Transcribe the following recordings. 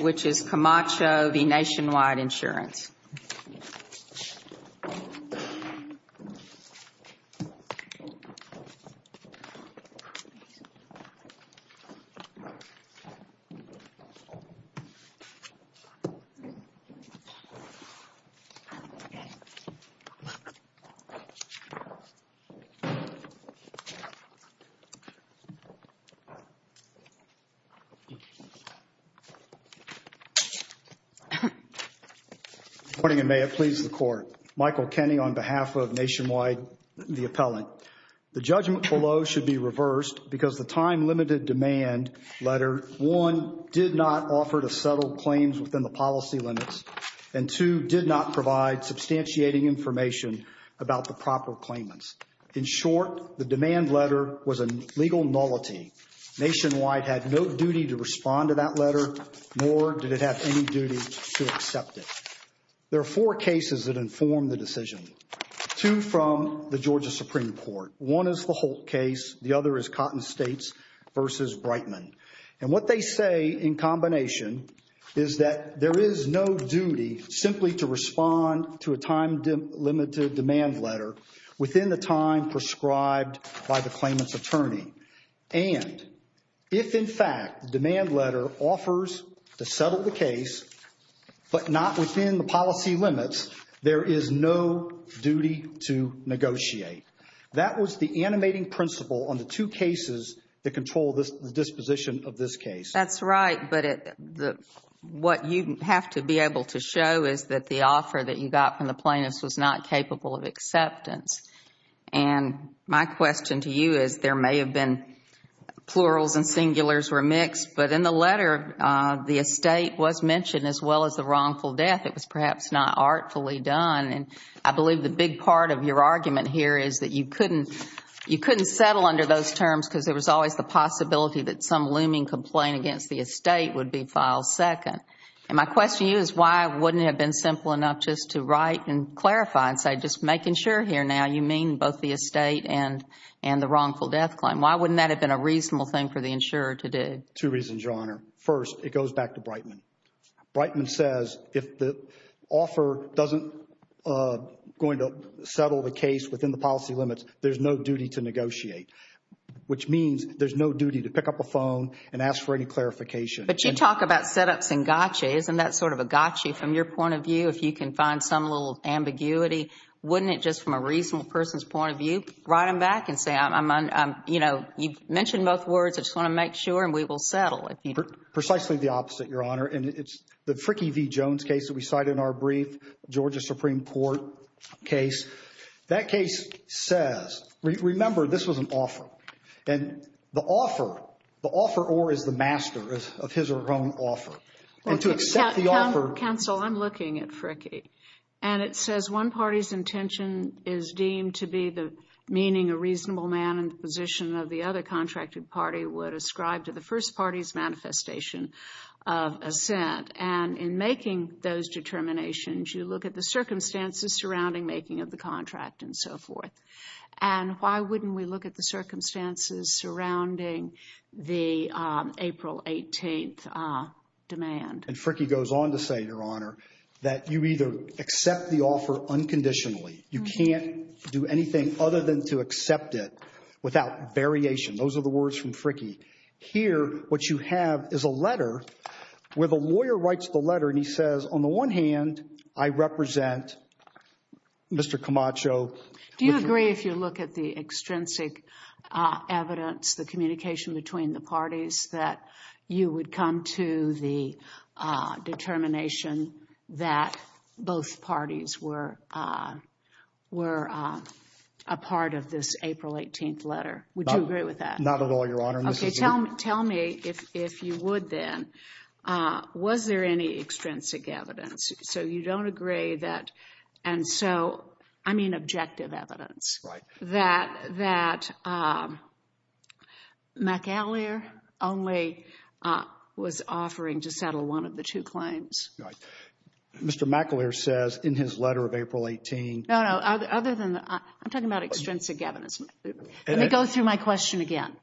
which is Camacho v. Nationwide Insurance. Good morning, and may it please the Court. Michael Kenney on behalf of Nationwide, the appellant. The judgment below should be reversed because the time-limited demand letter, one, did not offer to settle claims within the policy limits, and two, did not provide substantiating information about the proper claimants. In short, the demand letter was a legal nullity. Nationwide had no duty to respond to that letter, nor did it have any duty to accept it. There are four cases that inform the decision, two from the Georgia Supreme Court. One is the Holt case. The other is Cotton States v. Brightman. And what they say in combination is that there is no duty simply to respond to a time-limited demand letter within the time prescribed by the claimant's attorney. And if, in fact, the demand letter offers to settle the case but not within the policy limits, there is no duty to negotiate. That was the animating principle on the two cases that control the disposition of this case. That's right, but what you have to be able to show is that the offer that you got from the plaintiffs was not capable of acceptance. And my question to you is there may have been plurals and singulars remixed, but in the letter the estate was mentioned as well as the wrongful death. It was perhaps not artfully done. And I believe the big part of your argument here is that you couldn't settle under those terms because there was always the possibility that some looming complaint against the estate would be filed second. And my question to you is why wouldn't it have been simple enough just to write and clarify and say just make sure here now you mean both the estate and the wrongful death claim? Why wouldn't that have been a reasonable thing for the insurer to do? Two reasons, Your Honor. First, it goes back to Brightman. Brightman says if the offer doesn't go into settle the case within the policy limits, there's no duty to negotiate, which means there's no duty to pick up a phone and ask for any clarification. But you talk about set-ups and gotcha. Isn't that sort of a gotcha from your point of view if you can find some little ambiguity? Wouldn't it just from a reasonable person's point of view write them back and say, you know, you've mentioned both words. I just want to make sure and we will settle. Precisely the opposite, Your Honor. And it's the Fricke v. Jones case that we cited in our brief, Georgia Supreme Court case. That case says, remember, this was an offer. And the offer, the offeror is the master of his or her own offer. And to accept the offer. Counsel, I'm looking at Fricke. And it says one party's intention is deemed to be the meaning a reasonable man in the position of the other contracted party would ascribe to the first party's manifestation of assent. And in making those determinations, you look at the circumstances surrounding making of the contract and so forth. And why wouldn't we look at the circumstances surrounding the April 18th demand? And Fricke goes on to say, Your Honor, that you either accept the offer unconditionally. You can't do anything other than to accept it without variation. Those are the words from Fricke. Here what you have is a letter where the lawyer writes the letter and he says, on the one hand, I represent Mr. Camacho. Do you agree, if you look at the extrinsic evidence, the communication between the parties, that you would come to the determination that both parties were a part of this April 18th letter? Would you agree with that? Not at all, Your Honor. Okay, tell me, if you would then, was there any extrinsic evidence? So you don't agree that, and so, I mean objective evidence. Right. That McAleer only was offering to settle one of the two claims. Right. Mr. McAleer says in his letter of April 18th. No, no, other than, I'm talking about extrinsic evidence. Let me go through my question again.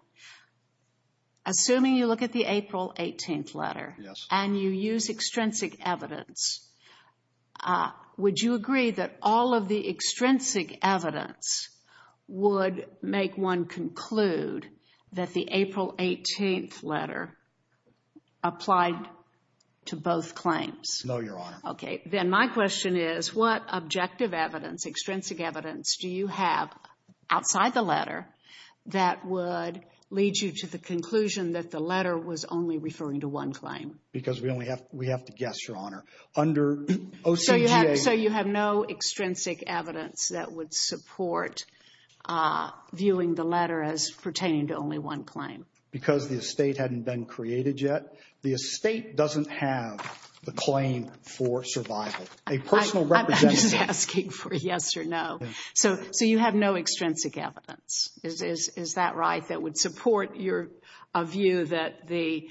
Assuming you look at the April 18th letter and you use extrinsic evidence, would you agree that all of the extrinsic evidence would make one conclude that the April 18th letter applied to both claims? No, Your Honor. Okay, then my question is, what objective evidence, extrinsic evidence, do you have outside the letter that would lead you to the conclusion that the letter was only referring to one claim? Because we only have, we have to guess, Your Honor, under OCGA. So you have no extrinsic evidence that would support viewing the letter as pertaining to only one claim? Because the estate hadn't been created yet. The estate doesn't have the claim for survival. A personal representation. I'm just asking for a yes or no. So you have no extrinsic evidence. Is that right, that would support your view that the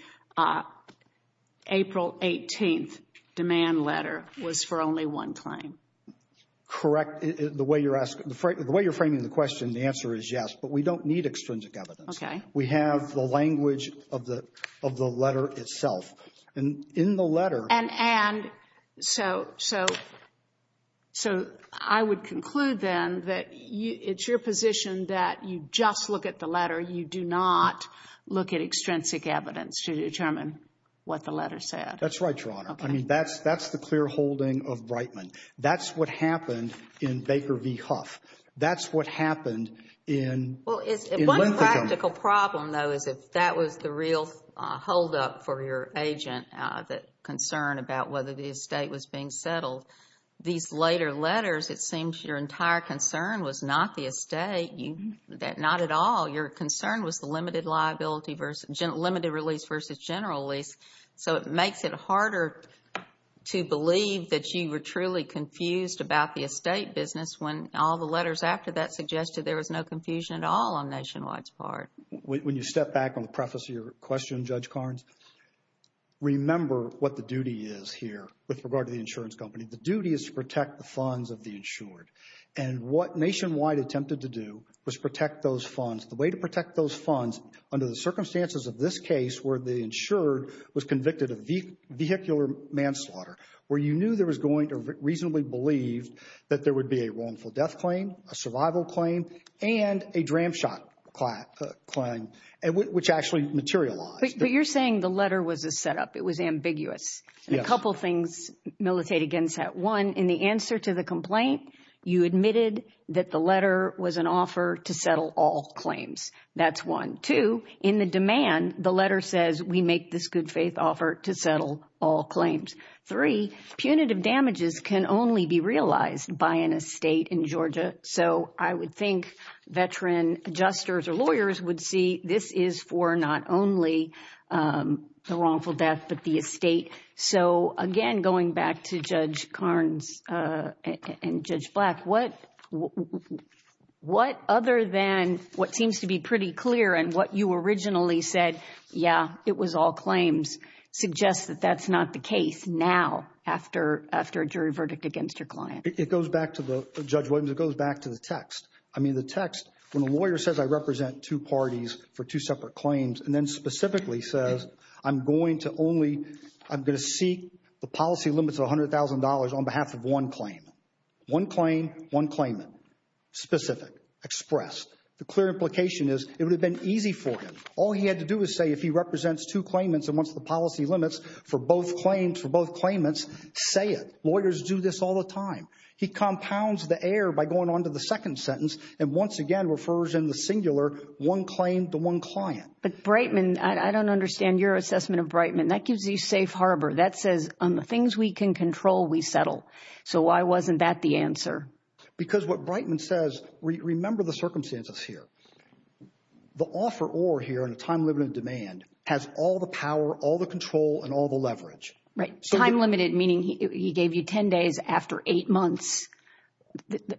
April 18th demand letter was for only one claim? Correct. The way you're framing the question, the answer is yes, but we don't need extrinsic evidence. Okay. We have the language of the letter itself. And in the letter — And so I would conclude, then, that it's your position that you just look at the letter, you do not look at extrinsic evidence to determine what the letter said. That's right, Your Honor. Okay. I mean, that's the clear holding of Brightman. That's what happened in Baker v. Huff. That's what happened in Linthicum. Well, one practical problem, though, is if that was the real holdup for your agent, that concern about whether the estate was being settled. These later letters, it seems your entire concern was not the estate, not at all. Your concern was the limited release versus general lease. So it makes it harder to believe that you were truly confused about the estate business when all the letters after that suggested there was no confusion at all on Nationwide's part. When you step back on the preface of your question, Judge Carnes, remember what the duty is here with regard to the insurance company. The duty is to protect the funds of the insured. And what Nationwide attempted to do was protect those funds. The way to protect those funds under the circumstances of this case where the insured was convicted of vehicular manslaughter, where you knew there was going to reasonably believe that there would be a wrongful death claim, a survival claim, and a dram shot claim, which actually materialized. But you're saying the letter was a setup. It was ambiguous. Yes. A couple things militate against that. One, in the answer to the complaint, you admitted that the letter was an offer to settle all claims. That's one. Two, in the demand, the letter says we make this good faith offer to settle all claims. Three, punitive damages can only be realized by an estate in Georgia. So I would think veteran adjusters or lawyers would see this is for not only the wrongful death but the estate. So, again, going back to Judge Carnes and Judge Black, what other than what seems to be pretty clear and what you originally said, yeah, it was all claims, suggests that that's not the case now after a jury verdict against your client? It goes back to the, Judge Williams, it goes back to the text. I mean the text, when a lawyer says I represent two parties for two separate claims and then specifically says I'm going to only, I'm going to seek the policy limits of $100,000 on behalf of one claim. One claim, one claimant. Specific. Expressed. The clear implication is it would have been easy for him. All he had to do was say if he represents two claimants and wants the policy limits for both claims for both claimants, say it. Lawyers do this all the time. He compounds the error by going on to the second sentence and once again refers in the singular one claim to one client. But Breitman, I don't understand your assessment of Breitman. That gives you safe harbor. That says on the things we can control, we settle. So why wasn't that the answer? Because what Breitman says, remember the circumstances here. The offeror here in a time-limited demand has all the power, all the control, and all the leverage. Right. Time-limited meaning he gave you 10 days after eight months.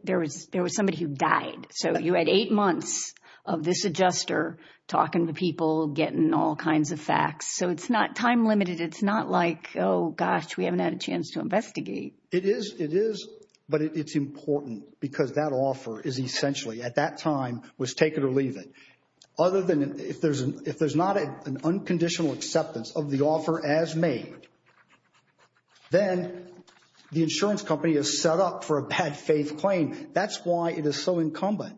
There was somebody who died. So you had eight months of this adjuster talking to people, getting all kinds of facts. So it's not time-limited. It's not like, oh, gosh, we haven't had a chance to investigate. It is, but it's important because that offer is essentially at that time was take it or leave it. Other than if there's not an unconditional acceptance of the offer as made, then the insurance company is set up for a bad-faith claim. That's why it is so incumbent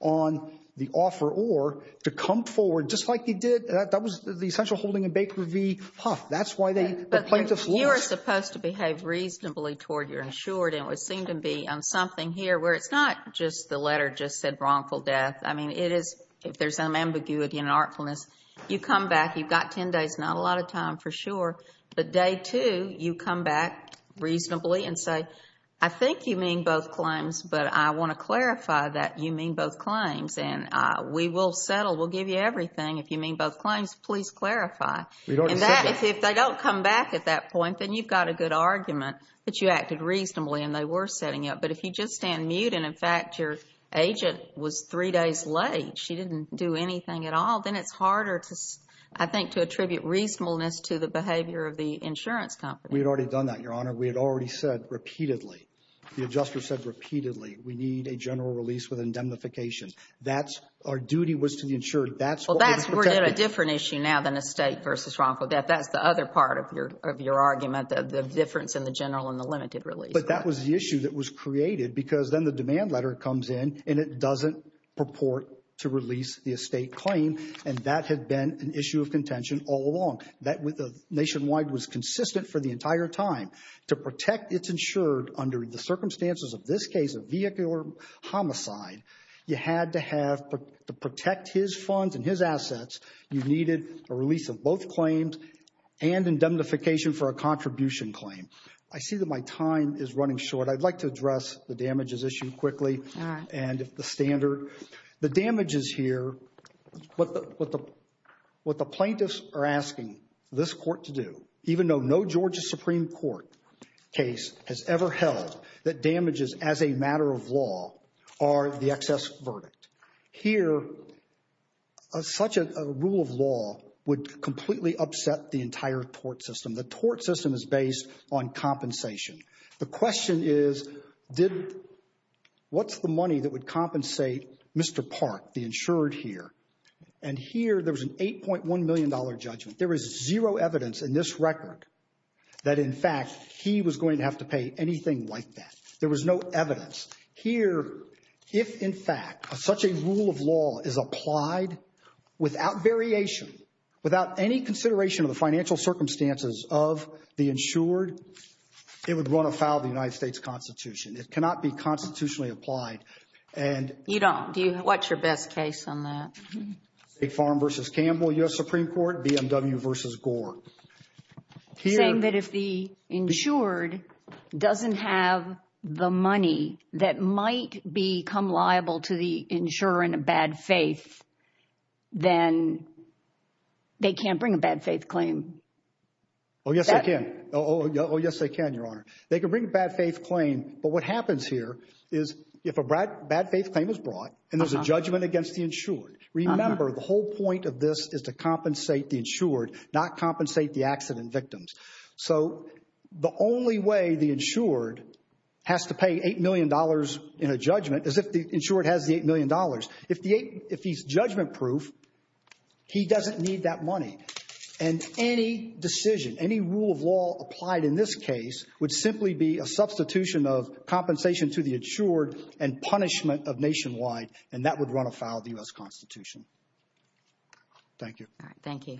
on the offeror to come forward just like he did. That was the essential holding in Baker v. Huff. That's why the plaintiff lost. You are supposed to behave reasonably toward your insured, and it would seem to be on something here where it's not just the letter just said wrongful death. I mean, it is if there's some ambiguity and artfulness. You come back. You've got 10 days, not a lot of time for sure. But day two, you come back reasonably and say, I think you mean both claims, but I want to clarify that you mean both claims, and we will settle. We'll give you everything. If you mean both claims, please clarify. If they don't come back at that point, then you've got a good argument that you acted reasonably and they were setting up. But if you just stand mute and, in fact, your agent was three days late, she didn't do anything at all, then it's harder, I think, to attribute reasonableness to the behavior of the insurance company. We had already done that, Your Honor. We had already said repeatedly. The adjuster said repeatedly we need a general release with indemnification. That's our duty was to the insured. That's what we were protecting. Well, that's a different issue now than estate v. wrongful death. That's the other part of your argument, the difference in the general and the limited release. But that was the issue that was created because then the demand letter comes in and it doesn't purport to release the estate claim, and that had been an issue of contention all along. That nationwide was consistent for the entire time. To protect its insured under the circumstances of this case, a vehicular homicide, you had to have to protect his funds and his assets. You needed a release of both claims and indemnification for a contribution claim. I see that my time is running short. I'd like to address the damages issued quickly and the standard. The damages here, what the plaintiffs are asking this court to do, even though no Georgia Supreme Court case has ever held that damages as a matter of law are the excess verdict. Here, such a rule of law would completely upset the entire tort system. The tort system is based on compensation. The question is, what's the money that would compensate Mr. Park, the insured here? And here, there was an $8.1 million judgment. There is zero evidence in this record that, in fact, he was going to have to pay anything like that. There was no evidence. Here, if, in fact, such a rule of law is applied without variation, without any consideration of the financial circumstances of the insured, it would run afoul of the United States Constitution. It cannot be constitutionally applied. You don't. What's your best case on that? Farm v. Campbell, U.S. Supreme Court, BMW v. Gore. Saying that if the insured doesn't have the money that might become liable to the insurer in a bad faith, then they can't bring a bad faith claim. Oh, yes, they can. Oh, yes, they can, Your Honor. They can bring a bad faith claim, but what happens here is if a bad faith claim is brought and there's a judgment against the insured, remember, the whole point of this is to compensate the insured, not compensate the accident victims. So the only way the insured has to pay $8 million in a judgment is if the insured has the $8 million. If he's judgment-proof, he doesn't need that money. And any decision, any rule of law applied in this case would simply be a substitution of compensation to the insured and punishment of Nationwide, and that would run afoul of the U.S. Constitution. Thank you. All right, thank you.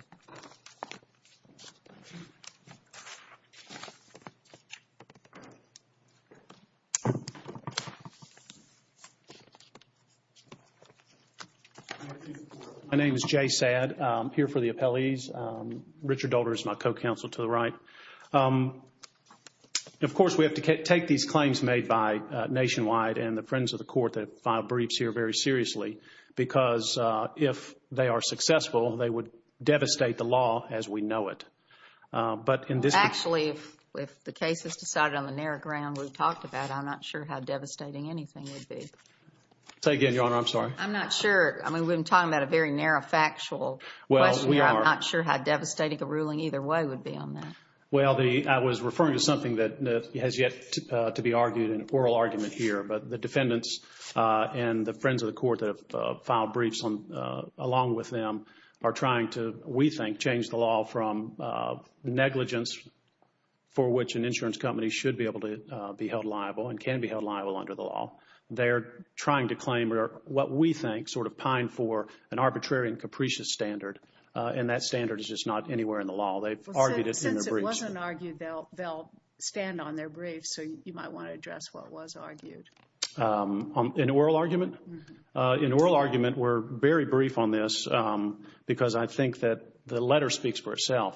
My name is Jay Saad. I'm here for the appellees. Richard Dolder is my co-counsel to the right. Of course, we have to take these claims made by Nationwide and the friends of the court that file briefs here very seriously because if they are successful, they would devastate the law as we know it. Actually, if the case is decided on the narrow ground we've talked about, I'm not sure how devastating anything would be. Say again, Your Honor. I'm sorry. I'm not sure. I mean, we've been talking about a very narrow factual question. Well, we are. I'm not sure how devastating a ruling either way would be on that. Well, I was referring to something that has yet to be argued in oral argument here, but the defendants and the friends of the court that have filed briefs along with them are trying to, we think, change the law from negligence for which an insurance company should be able to be held liable and can be held liable under the law. They're trying to claim what we think sort of pined for an arbitrary and capricious standard, and that standard is just not anywhere in the law. They've argued it in their briefs. Since it wasn't argued, they'll stand on their briefs, so you might want to address what was argued. In oral argument? In oral argument, we're very brief on this because I think that the letter speaks for itself.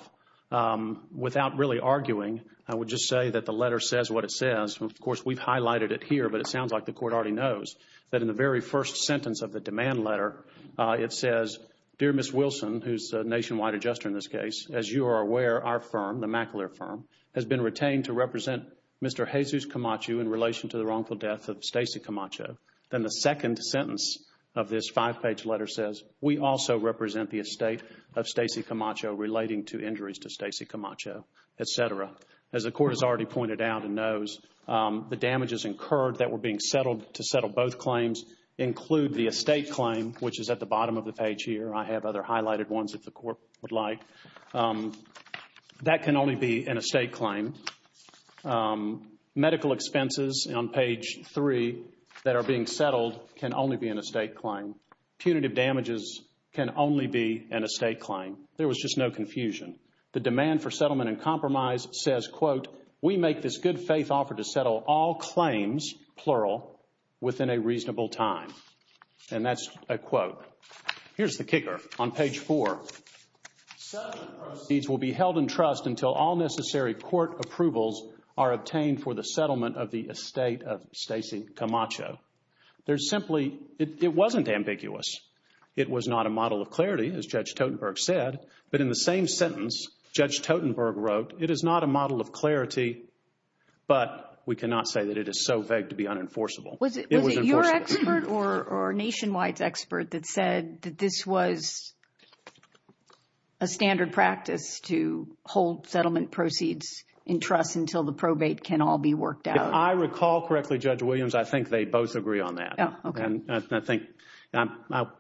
Without really arguing, I would just say that the letter says what it says. And, of course, we've highlighted it here, but it sounds like the court already knows that in the very first sentence of the demand letter, it says, Dear Ms. Wilson, who's a nationwide adjuster in this case, as you are aware, our firm, the Mackler firm, has been retained to represent Mr. Jesus Camacho in relation to the wrongful death of Stacey Camacho. Then the second sentence of this five-page letter says, We also represent the estate of Stacey Camacho relating to injuries to Stacey Camacho, et cetera. As the court has already pointed out and knows, the damages incurred that were being settled to settle both claims include the estate claim, which is at the bottom of the page here. I have other highlighted ones if the court would like. That can only be an estate claim. Medical expenses on page 3 that are being settled can only be an estate claim. Punitive damages can only be an estate claim. There was just no confusion. The demand for settlement and compromise says, quote, We make this good faith offer to settle all claims, plural, within a reasonable time. And that's a quote. Here's the kicker on page 4. Settlement proceeds will be held in trust until all necessary court approvals are obtained for the settlement of the estate of Stacey Camacho. There's simply, it wasn't ambiguous. It was not a model of clarity, as Judge Totenberg said. But in the same sentence, Judge Totenberg wrote, It is not a model of clarity, but we cannot say that it is so vague to be unenforceable. Was it your expert or Nationwide's expert that said that this was a standard practice to hold settlement proceeds in trust until the probate can all be worked out? If I recall correctly, Judge Williams, I think they both agree on that. Okay. And I think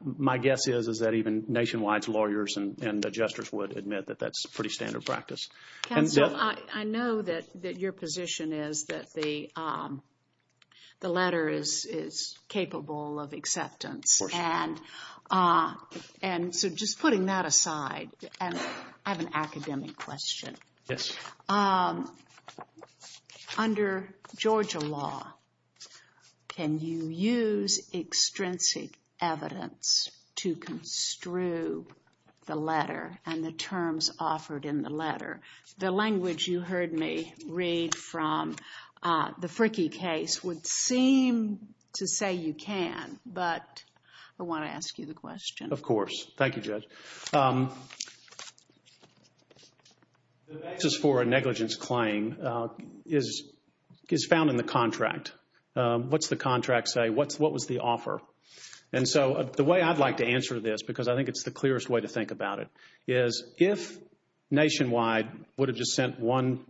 my guess is that even Nationwide's lawyers and adjusters would admit that that's pretty standard practice. Counsel, I know that your position is that the letter is capable of acceptance. Of course. And so just putting that aside, I have an academic question. Yes. Under Georgia law, can you use extrinsic evidence to construe the letter and the terms offered in the letter? The language you heard me read from the Frickie case would seem to say you can, but I want to ask you the question. Of course. Thank you, Judge. The basis for a negligence claim is found in the contract. What's the contract say? What was the offer? And so the way I'd like to answer this, because I think it's the clearest way to think about it, is if Nationwide would have just sent one,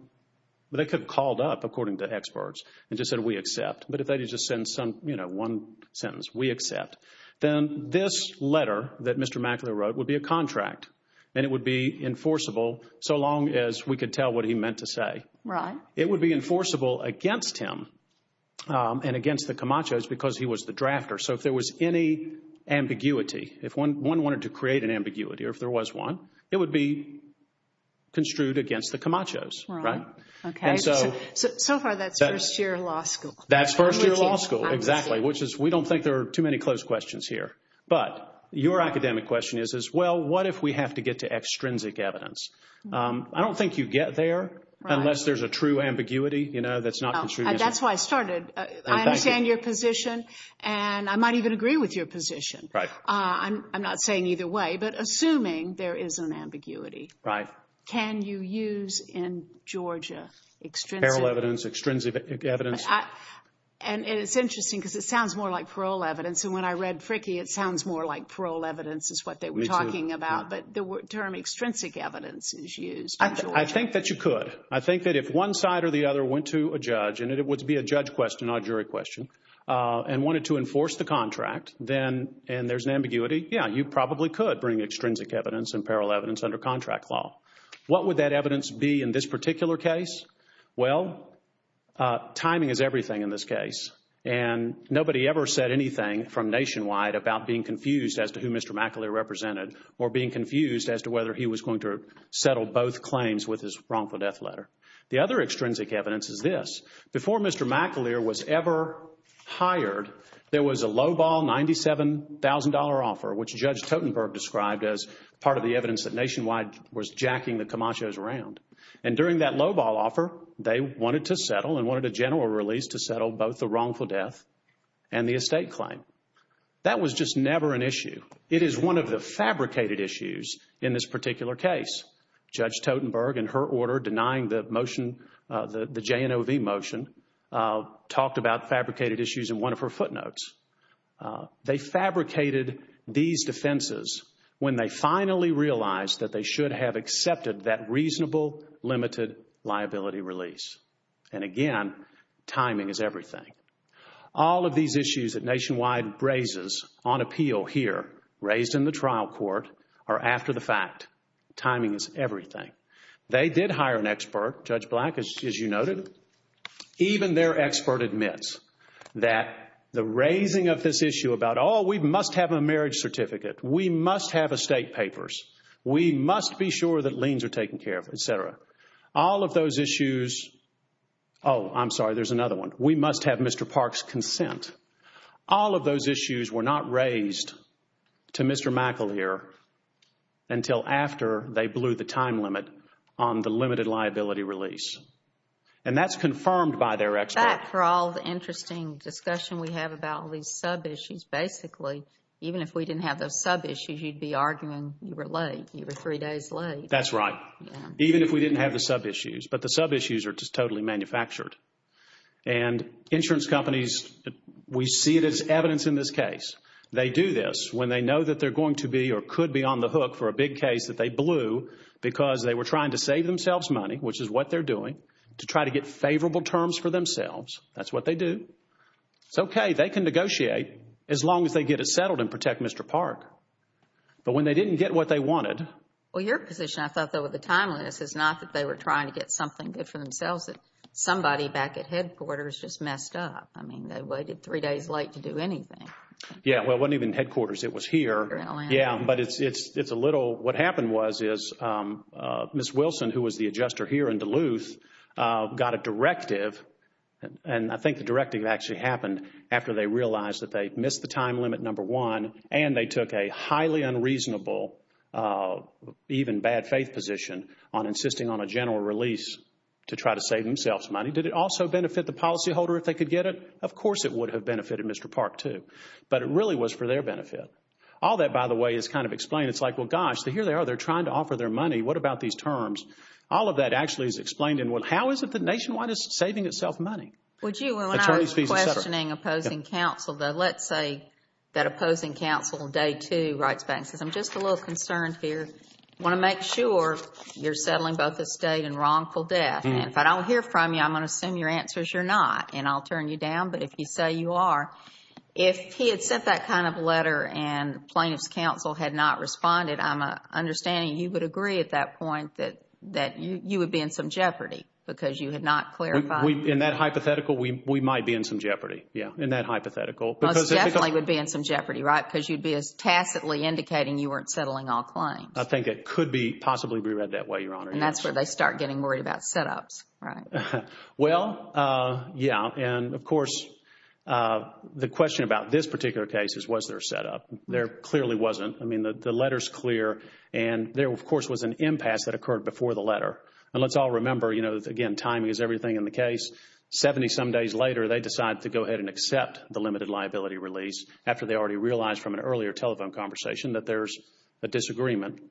they could have called up, according to experts, and just said, we accept. But if they just send one sentence, we accept, then this letter that Mr. Mackler wrote would be a contract, and it would be enforceable so long as we could tell what he meant to say. Right. It would be enforceable against him and against the Camachos because he was the drafter. So if there was any ambiguity, if one wanted to create an ambiguity or if there was one, it would be construed against the Camachos. Right. Okay. So far that's first-year law school. That's first-year law school, exactly, which is we don't think there are too many close questions here. But your academic question is, well, what if we have to get to extrinsic evidence? I don't think you get there unless there's a true ambiguity that's not construed against it. That's why I started. I understand your position, and I might even agree with your position. Right. I'm not saying either way, but assuming there is an ambiguity, can you use in Georgia extrinsic evidence? Parallel evidence, extrinsic evidence. And it's interesting because it sounds more like parole evidence, and when I read Fricke it sounds more like parole evidence is what they were talking about. Me too. But the term extrinsic evidence is used in Georgia. I think that you could. I think that if one side or the other went to a judge, and it would be a judge question, not a jury question, and wanted to enforce the contract, and there's an ambiguity, yeah, you probably could bring extrinsic evidence and parallel evidence under contract law. What would that evidence be in this particular case? Well, timing is everything in this case, and nobody ever said anything from Nationwide about being confused as to who Mr. McAleer represented or being confused as to whether he was going to settle both claims with his wrongful death letter. The other extrinsic evidence is this. Before Mr. McAleer was ever hired, there was a lowball $97,000 offer, which Judge Totenberg described as part of the evidence that Nationwide was jacking the Camachos around. And during that lowball offer, they wanted to settle and wanted a general release to settle both the wrongful death and the estate claim. That was just never an issue. It is one of the fabricated issues in this particular case. Judge Totenberg, in her order denying the motion, the JNOV motion, talked about fabricated issues in one of her footnotes. They fabricated these defenses when they finally realized that they should have accepted that reasonable, limited liability release. And again, timing is everything. All of these issues that Nationwide raises on appeal here, raised in the trial court, are after the fact. Timing is everything. They did hire an expert, Judge Black, as you noted. Even their expert admits that the raising of this issue about, oh, we must have a marriage certificate, we must have estate papers, we must be sure that liens are taken care of, etc. All of those issues... Oh, I'm sorry, there's another one. We must have Mr. Park's consent. All of those issues were not raised to Mr. McAleer until after they blew the time limit on the limited liability release. And that's confirmed by their expert. Back for all the interesting discussion we have about these sub-issues. Basically, even if we didn't have those sub-issues, you'd be arguing you were late. You were three days late. That's right. Even if we didn't have the sub-issues. But the sub-issues are just totally manufactured. And insurance companies, we see it as evidence in this case. They do this when they know that they're going to be or could be on the hook for a big case that they blew because they were trying to save themselves money, which is what they're doing, to try to get favorable terms for themselves. That's what they do. It's okay. They can negotiate as long as they get it settled and protect Mr. Park. But when they didn't get what they wanted... Well, your position, I thought, though, with the timeliness, is not that they were trying to get something good for themselves. Somebody back at headquarters just messed up. I mean, they waited three days late to do anything. Yeah. Well, it wasn't even headquarters. It was here. Yeah, but it's a little... What happened was is Ms. Wilson, who was the adjuster here in Duluth, got a directive, and I think the directive actually happened after they realized that they missed the time limit number one and they took a highly unreasonable, even bad faith position, on insisting on a general release to try to save themselves money. Did it also benefit the policyholder if they could get it? Of course it would have benefited Mr. Park, too. But it really was for their benefit. All that, by the way, is kind of explained. It's like, well, gosh, here they are. They're trying to offer their money. What about these terms? All of that actually is explained. How is it that Nationwide is saving itself money? When I was questioning opposing counsel, let's say that opposing counsel on day two writes back and says, I'm just a little concerned here. I want to make sure you're settling both estate and wrongful death. If I don't hear from you, I'm going to assume your answer is you're not, and I'll turn you down. But if you say you are, if he had sent that kind of letter and plaintiff's counsel had not responded, I'm understanding you would agree at that point that you would be in some jeopardy because you had not clarified. In that hypothetical, we might be in some jeopardy, yeah, in that hypothetical. Most definitely would be in some jeopardy, right, because you'd be as tacitly indicating you weren't settling all claims. I think it could possibly be read that way, Your Honor. And that's where they start getting worried about setups, right? Well, yeah, and, of course, the question about this particular case is, was there a setup? There clearly wasn't. I mean, the letter's clear, and there, of course, was an impasse that occurred before the letter. And let's all remember, you know, again, timing is everything in the case. Seventy-some days later, they decide to go ahead and accept the limited liability release after they already realized from an earlier telephone conversation that there's a disagreement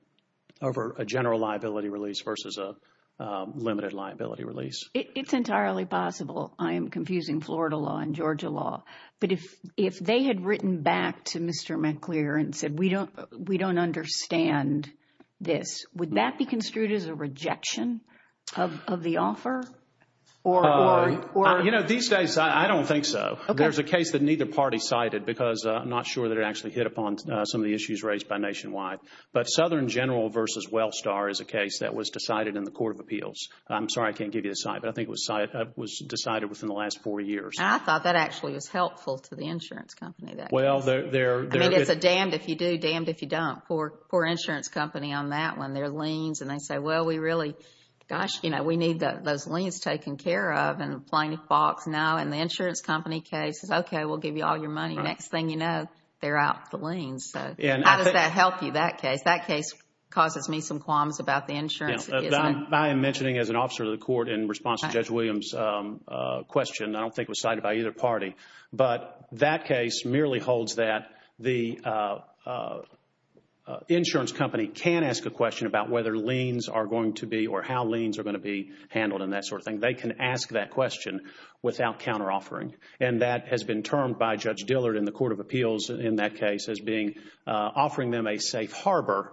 over a general liability release versus a limited liability release. It's entirely possible. I am confusing Florida law and Georgia law. But if they had written back to Mr. McClure and said, we don't understand this, would that be construed as a rejection of the offer? You know, these days, I don't think so. There's a case that neither party cited because I'm not sure that it actually hit upon some of the issues raised by Nationwide. But Southern General versus Wellstar is a case that was decided in the Court of Appeals. I'm sorry I can't give you the site, but I think it was decided within the last four years. I thought that actually was helpful to the insurance company, that case. I mean, it's a damned if you do, damned if you don't. Poor insurance company on that one. Their liens, and they say, well, we really, gosh, you know, we need those liens taken care of in a plain box now. And the insurance company case says, okay, we'll give you all your money. Next thing you know, they're out the liens. So how does that help you, that case? That case causes me some qualms about the insurance. I am mentioning as an officer of the court in response to Judge Williams' question, I don't think it was cited by either party. But that case merely holds that the insurance company can ask a question about whether liens are going to be or how liens are going to be handled and that sort of thing. They can ask that question without counter-offering. And that has been termed by Judge Dillard in the Court of Appeals in that case as offering them a safe harbor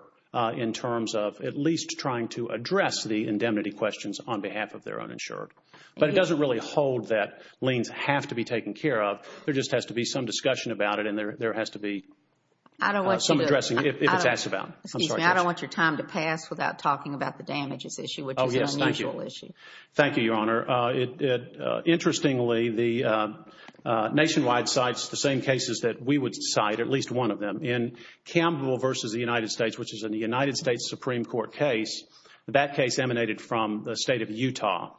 in terms of at least trying to address the indemnity questions on behalf of their uninsured. But it doesn't really hold that liens have to be taken care of. There just has to be some discussion about it and there has to be some addressing if it's asked about. Excuse me. I don't want your time to pass without talking about the damages issue, which is an unusual issue. Thank you, Your Honor. Interestingly, Nationwide cites the same cases that we would cite, at least one of them. In Campbell v. the United States, which is a United States Supreme Court case, that case emanated from the state of Utah.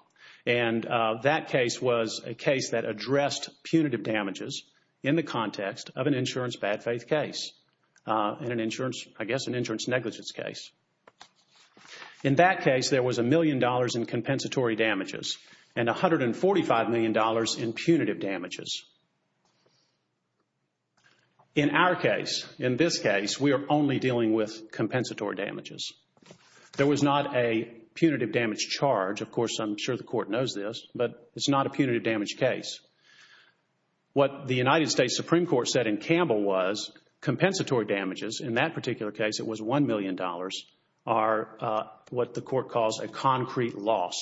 And that case was a case that addressed punitive damages in the context of an insurance bad faith case and, I guess, an insurance negligence case. In that case, there was $1 million in compensatory damages and $145 million in punitive damages. In our case, in this case, we are only dealing with compensatory damages. There was not a punitive damage charge. Of course, I'm sure the Court knows this, but it's not a punitive damage case. What the United States Supreme Court said in Campbell was compensatory damages, in that particular case it was $1 million, are what the Court calls a concrete loss.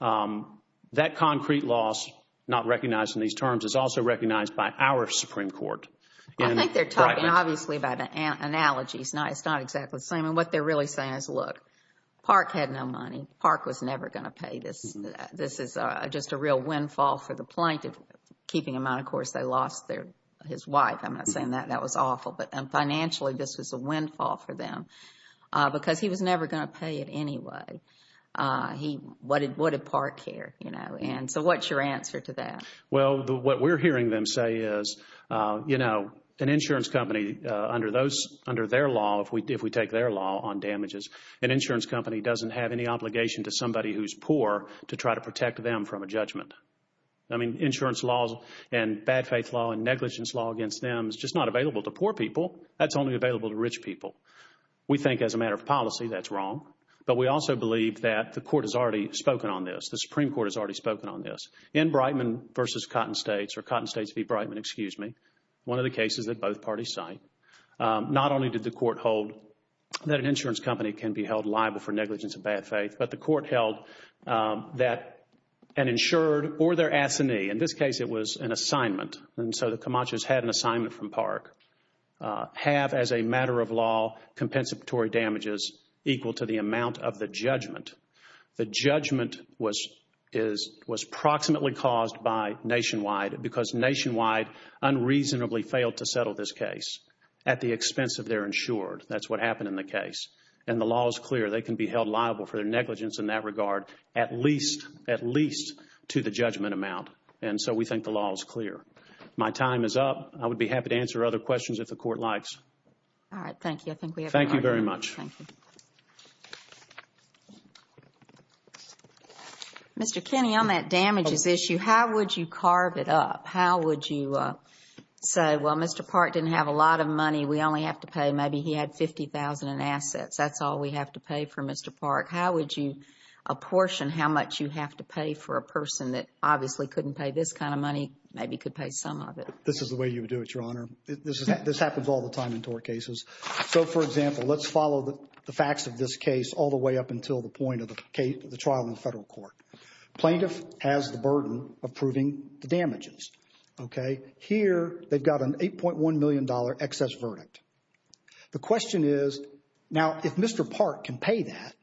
That concrete loss, not recognized in these terms, is also recognized by our Supreme Court. I think they're talking, obviously, about analogies. It's not exactly the same. And what they're really saying is, look, Park had no money. Park was never going to pay this. This is just a real windfall for the plaintiff. Keeping in mind, of course, they lost his wife. I'm not saying that was awful. But financially, this was a windfall for them because he was never going to pay it anyway. What did Park care? So what's your answer to that? Well, what we're hearing them say is, you know, an insurance company, under their law, if we take their law on damages, an insurance company doesn't have any obligation to somebody who's poor to try to protect them from a judgment. I mean, insurance laws and bad faith law and negligence law against them is just not available to poor people. That's only available to rich people. We think, as a matter of policy, that's wrong. But we also believe that the Court has already spoken on this. The Supreme Court has already spoken on this. In Breitman v. Cotton States, or Cotton States v. Breitman, excuse me, one of the cases that both parties cite, not only did the Court hold that an insurance company can be held liable for negligence and bad faith, but the Court held that an insured or their assignee, in this case it was an assignment, and so the Camachos had an assignment from Park, have, as a matter of law, compensatory damages equal to the amount of the judgment. The judgment was proximately caused by Nationwide because Nationwide unreasonably failed to settle this case at the expense of their insured. That's what happened in the case, and the law is clear. They can be held liable for their negligence in that regard, at least to the judgment amount, and so we think the law is clear. My time is up. I would be happy to answer other questions if the Court likes. All right, thank you. I think we have time. Thank you very much. Mr. Kinney, on that damages issue, how would you carve it up? How would you say, well, Mr. Park didn't have a lot of money. We only have to pay maybe he had $50,000 in assets. That's all we have to pay for Mr. Park. How would you apportion how much you have to pay for a person that obviously couldn't pay this kind of money, maybe could pay some of it? This is the way you would do it, Your Honor. This happens all the time in tort cases. So, for example, let's follow the facts of this case all the way up until the point of the trial in the federal court. Plaintiff has the burden of proving the damages. Here they've got an $8.1 million excess verdict. The question is, now, if Mr. Park can pay that,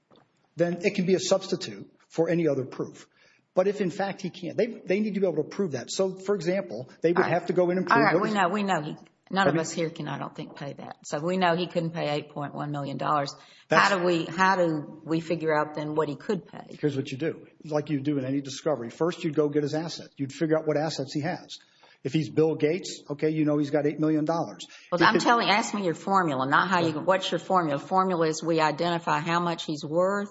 then it can be a substitute for any other proof. But if, in fact, he can't, they need to be able to prove that. So, for example, they would have to go in and prove it. All right, we know. None of us here can, I don't think, pay that. So if we know he couldn't pay $8.1 million, how do we figure out then what he could pay? Here's what you do, like you do in any discovery. First, you'd go get his asset. You'd figure out what assets he has. If he's Bill Gates, okay, you know he's got $8 million. I'm telling you, ask me your formula, not what's your formula. Formula is we identify how much he's worth.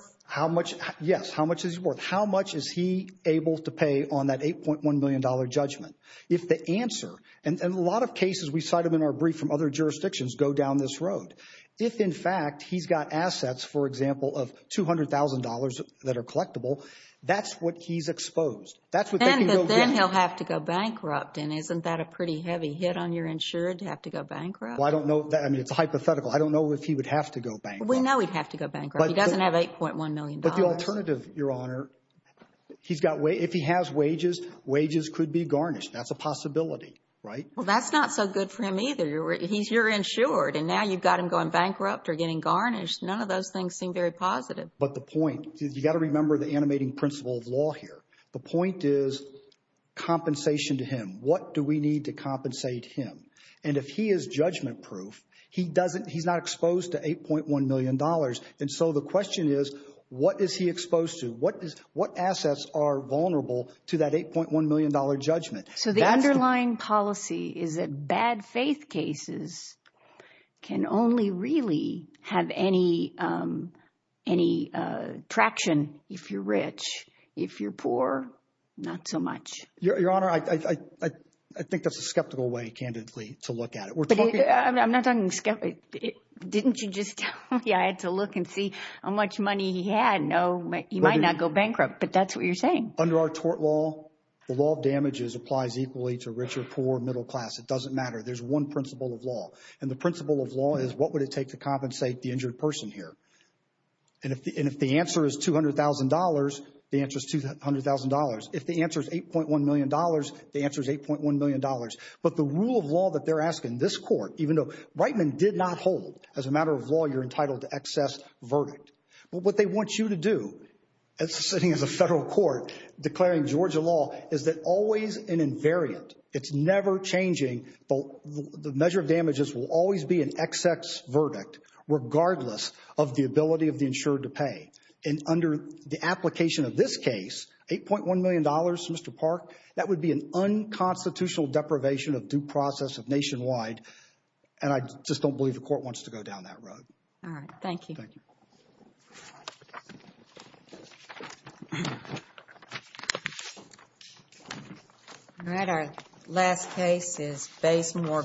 Yes, how much is he worth. How much is he able to pay on that $8.1 million judgment? If the answer, and a lot of cases we cite them in our brief from other jurisdictions, go down this road. If, in fact, he's got assets, for example, of $200,000 that are collectible, that's what he's exposed. Then he'll have to go bankrupt. And isn't that a pretty heavy hit on your insured to have to go bankrupt? Well, I don't know. I mean, it's hypothetical. I don't know if he would have to go bankrupt. We know he'd have to go bankrupt. He doesn't have $8.1 million. But the alternative, Your Honor, if he has wages, wages could be garnished. That's a possibility, right? Well, that's not so good for him either. You're insured, and now you've got him going bankrupt or getting garnished. None of those things seem very positive. But the point, you've got to remember the animating principle of law here. The point is compensation to him. What do we need to compensate him? And if he is judgment-proof, he's not exposed to $8.1 million. And so the question is, what is he exposed to? What assets are vulnerable to that $8.1 million judgment? So the underlying policy is that bad faith cases can only really have any traction if you're rich. If you're poor, not so much. Your Honor, I think that's a skeptical way, candidly, to look at it. I'm not talking skeptical. Didn't you just tell me I had to look and see how much money he had? No, he might not go bankrupt, but that's what you're saying. Under our tort law, the law of damages applies equally to rich or poor, middle class. It doesn't matter. There's one principle of law. And the principle of law is what would it take to compensate the injured person here? And if the answer is $200,000, the answer is $200,000. If the answer is $8.1 million, the answer is $8.1 million. But the rule of law that they're asking this court, even though Reitman did not hold as a matter of law, you're entitled to excess verdict. But what they want you to do, sitting as a federal court, declaring Georgia law, is that always an invariant, it's never changing, the measure of damages will always be an excess verdict, regardless of the ability of the insured to pay. And under the application of this case, $8.1 million, Mr. Park, that would be an unconstitutional deprivation of due process of nationwide, and I just don't believe the court wants to go down that road. All right. Thank you. Thank you. All right. Our last case is Bazemore.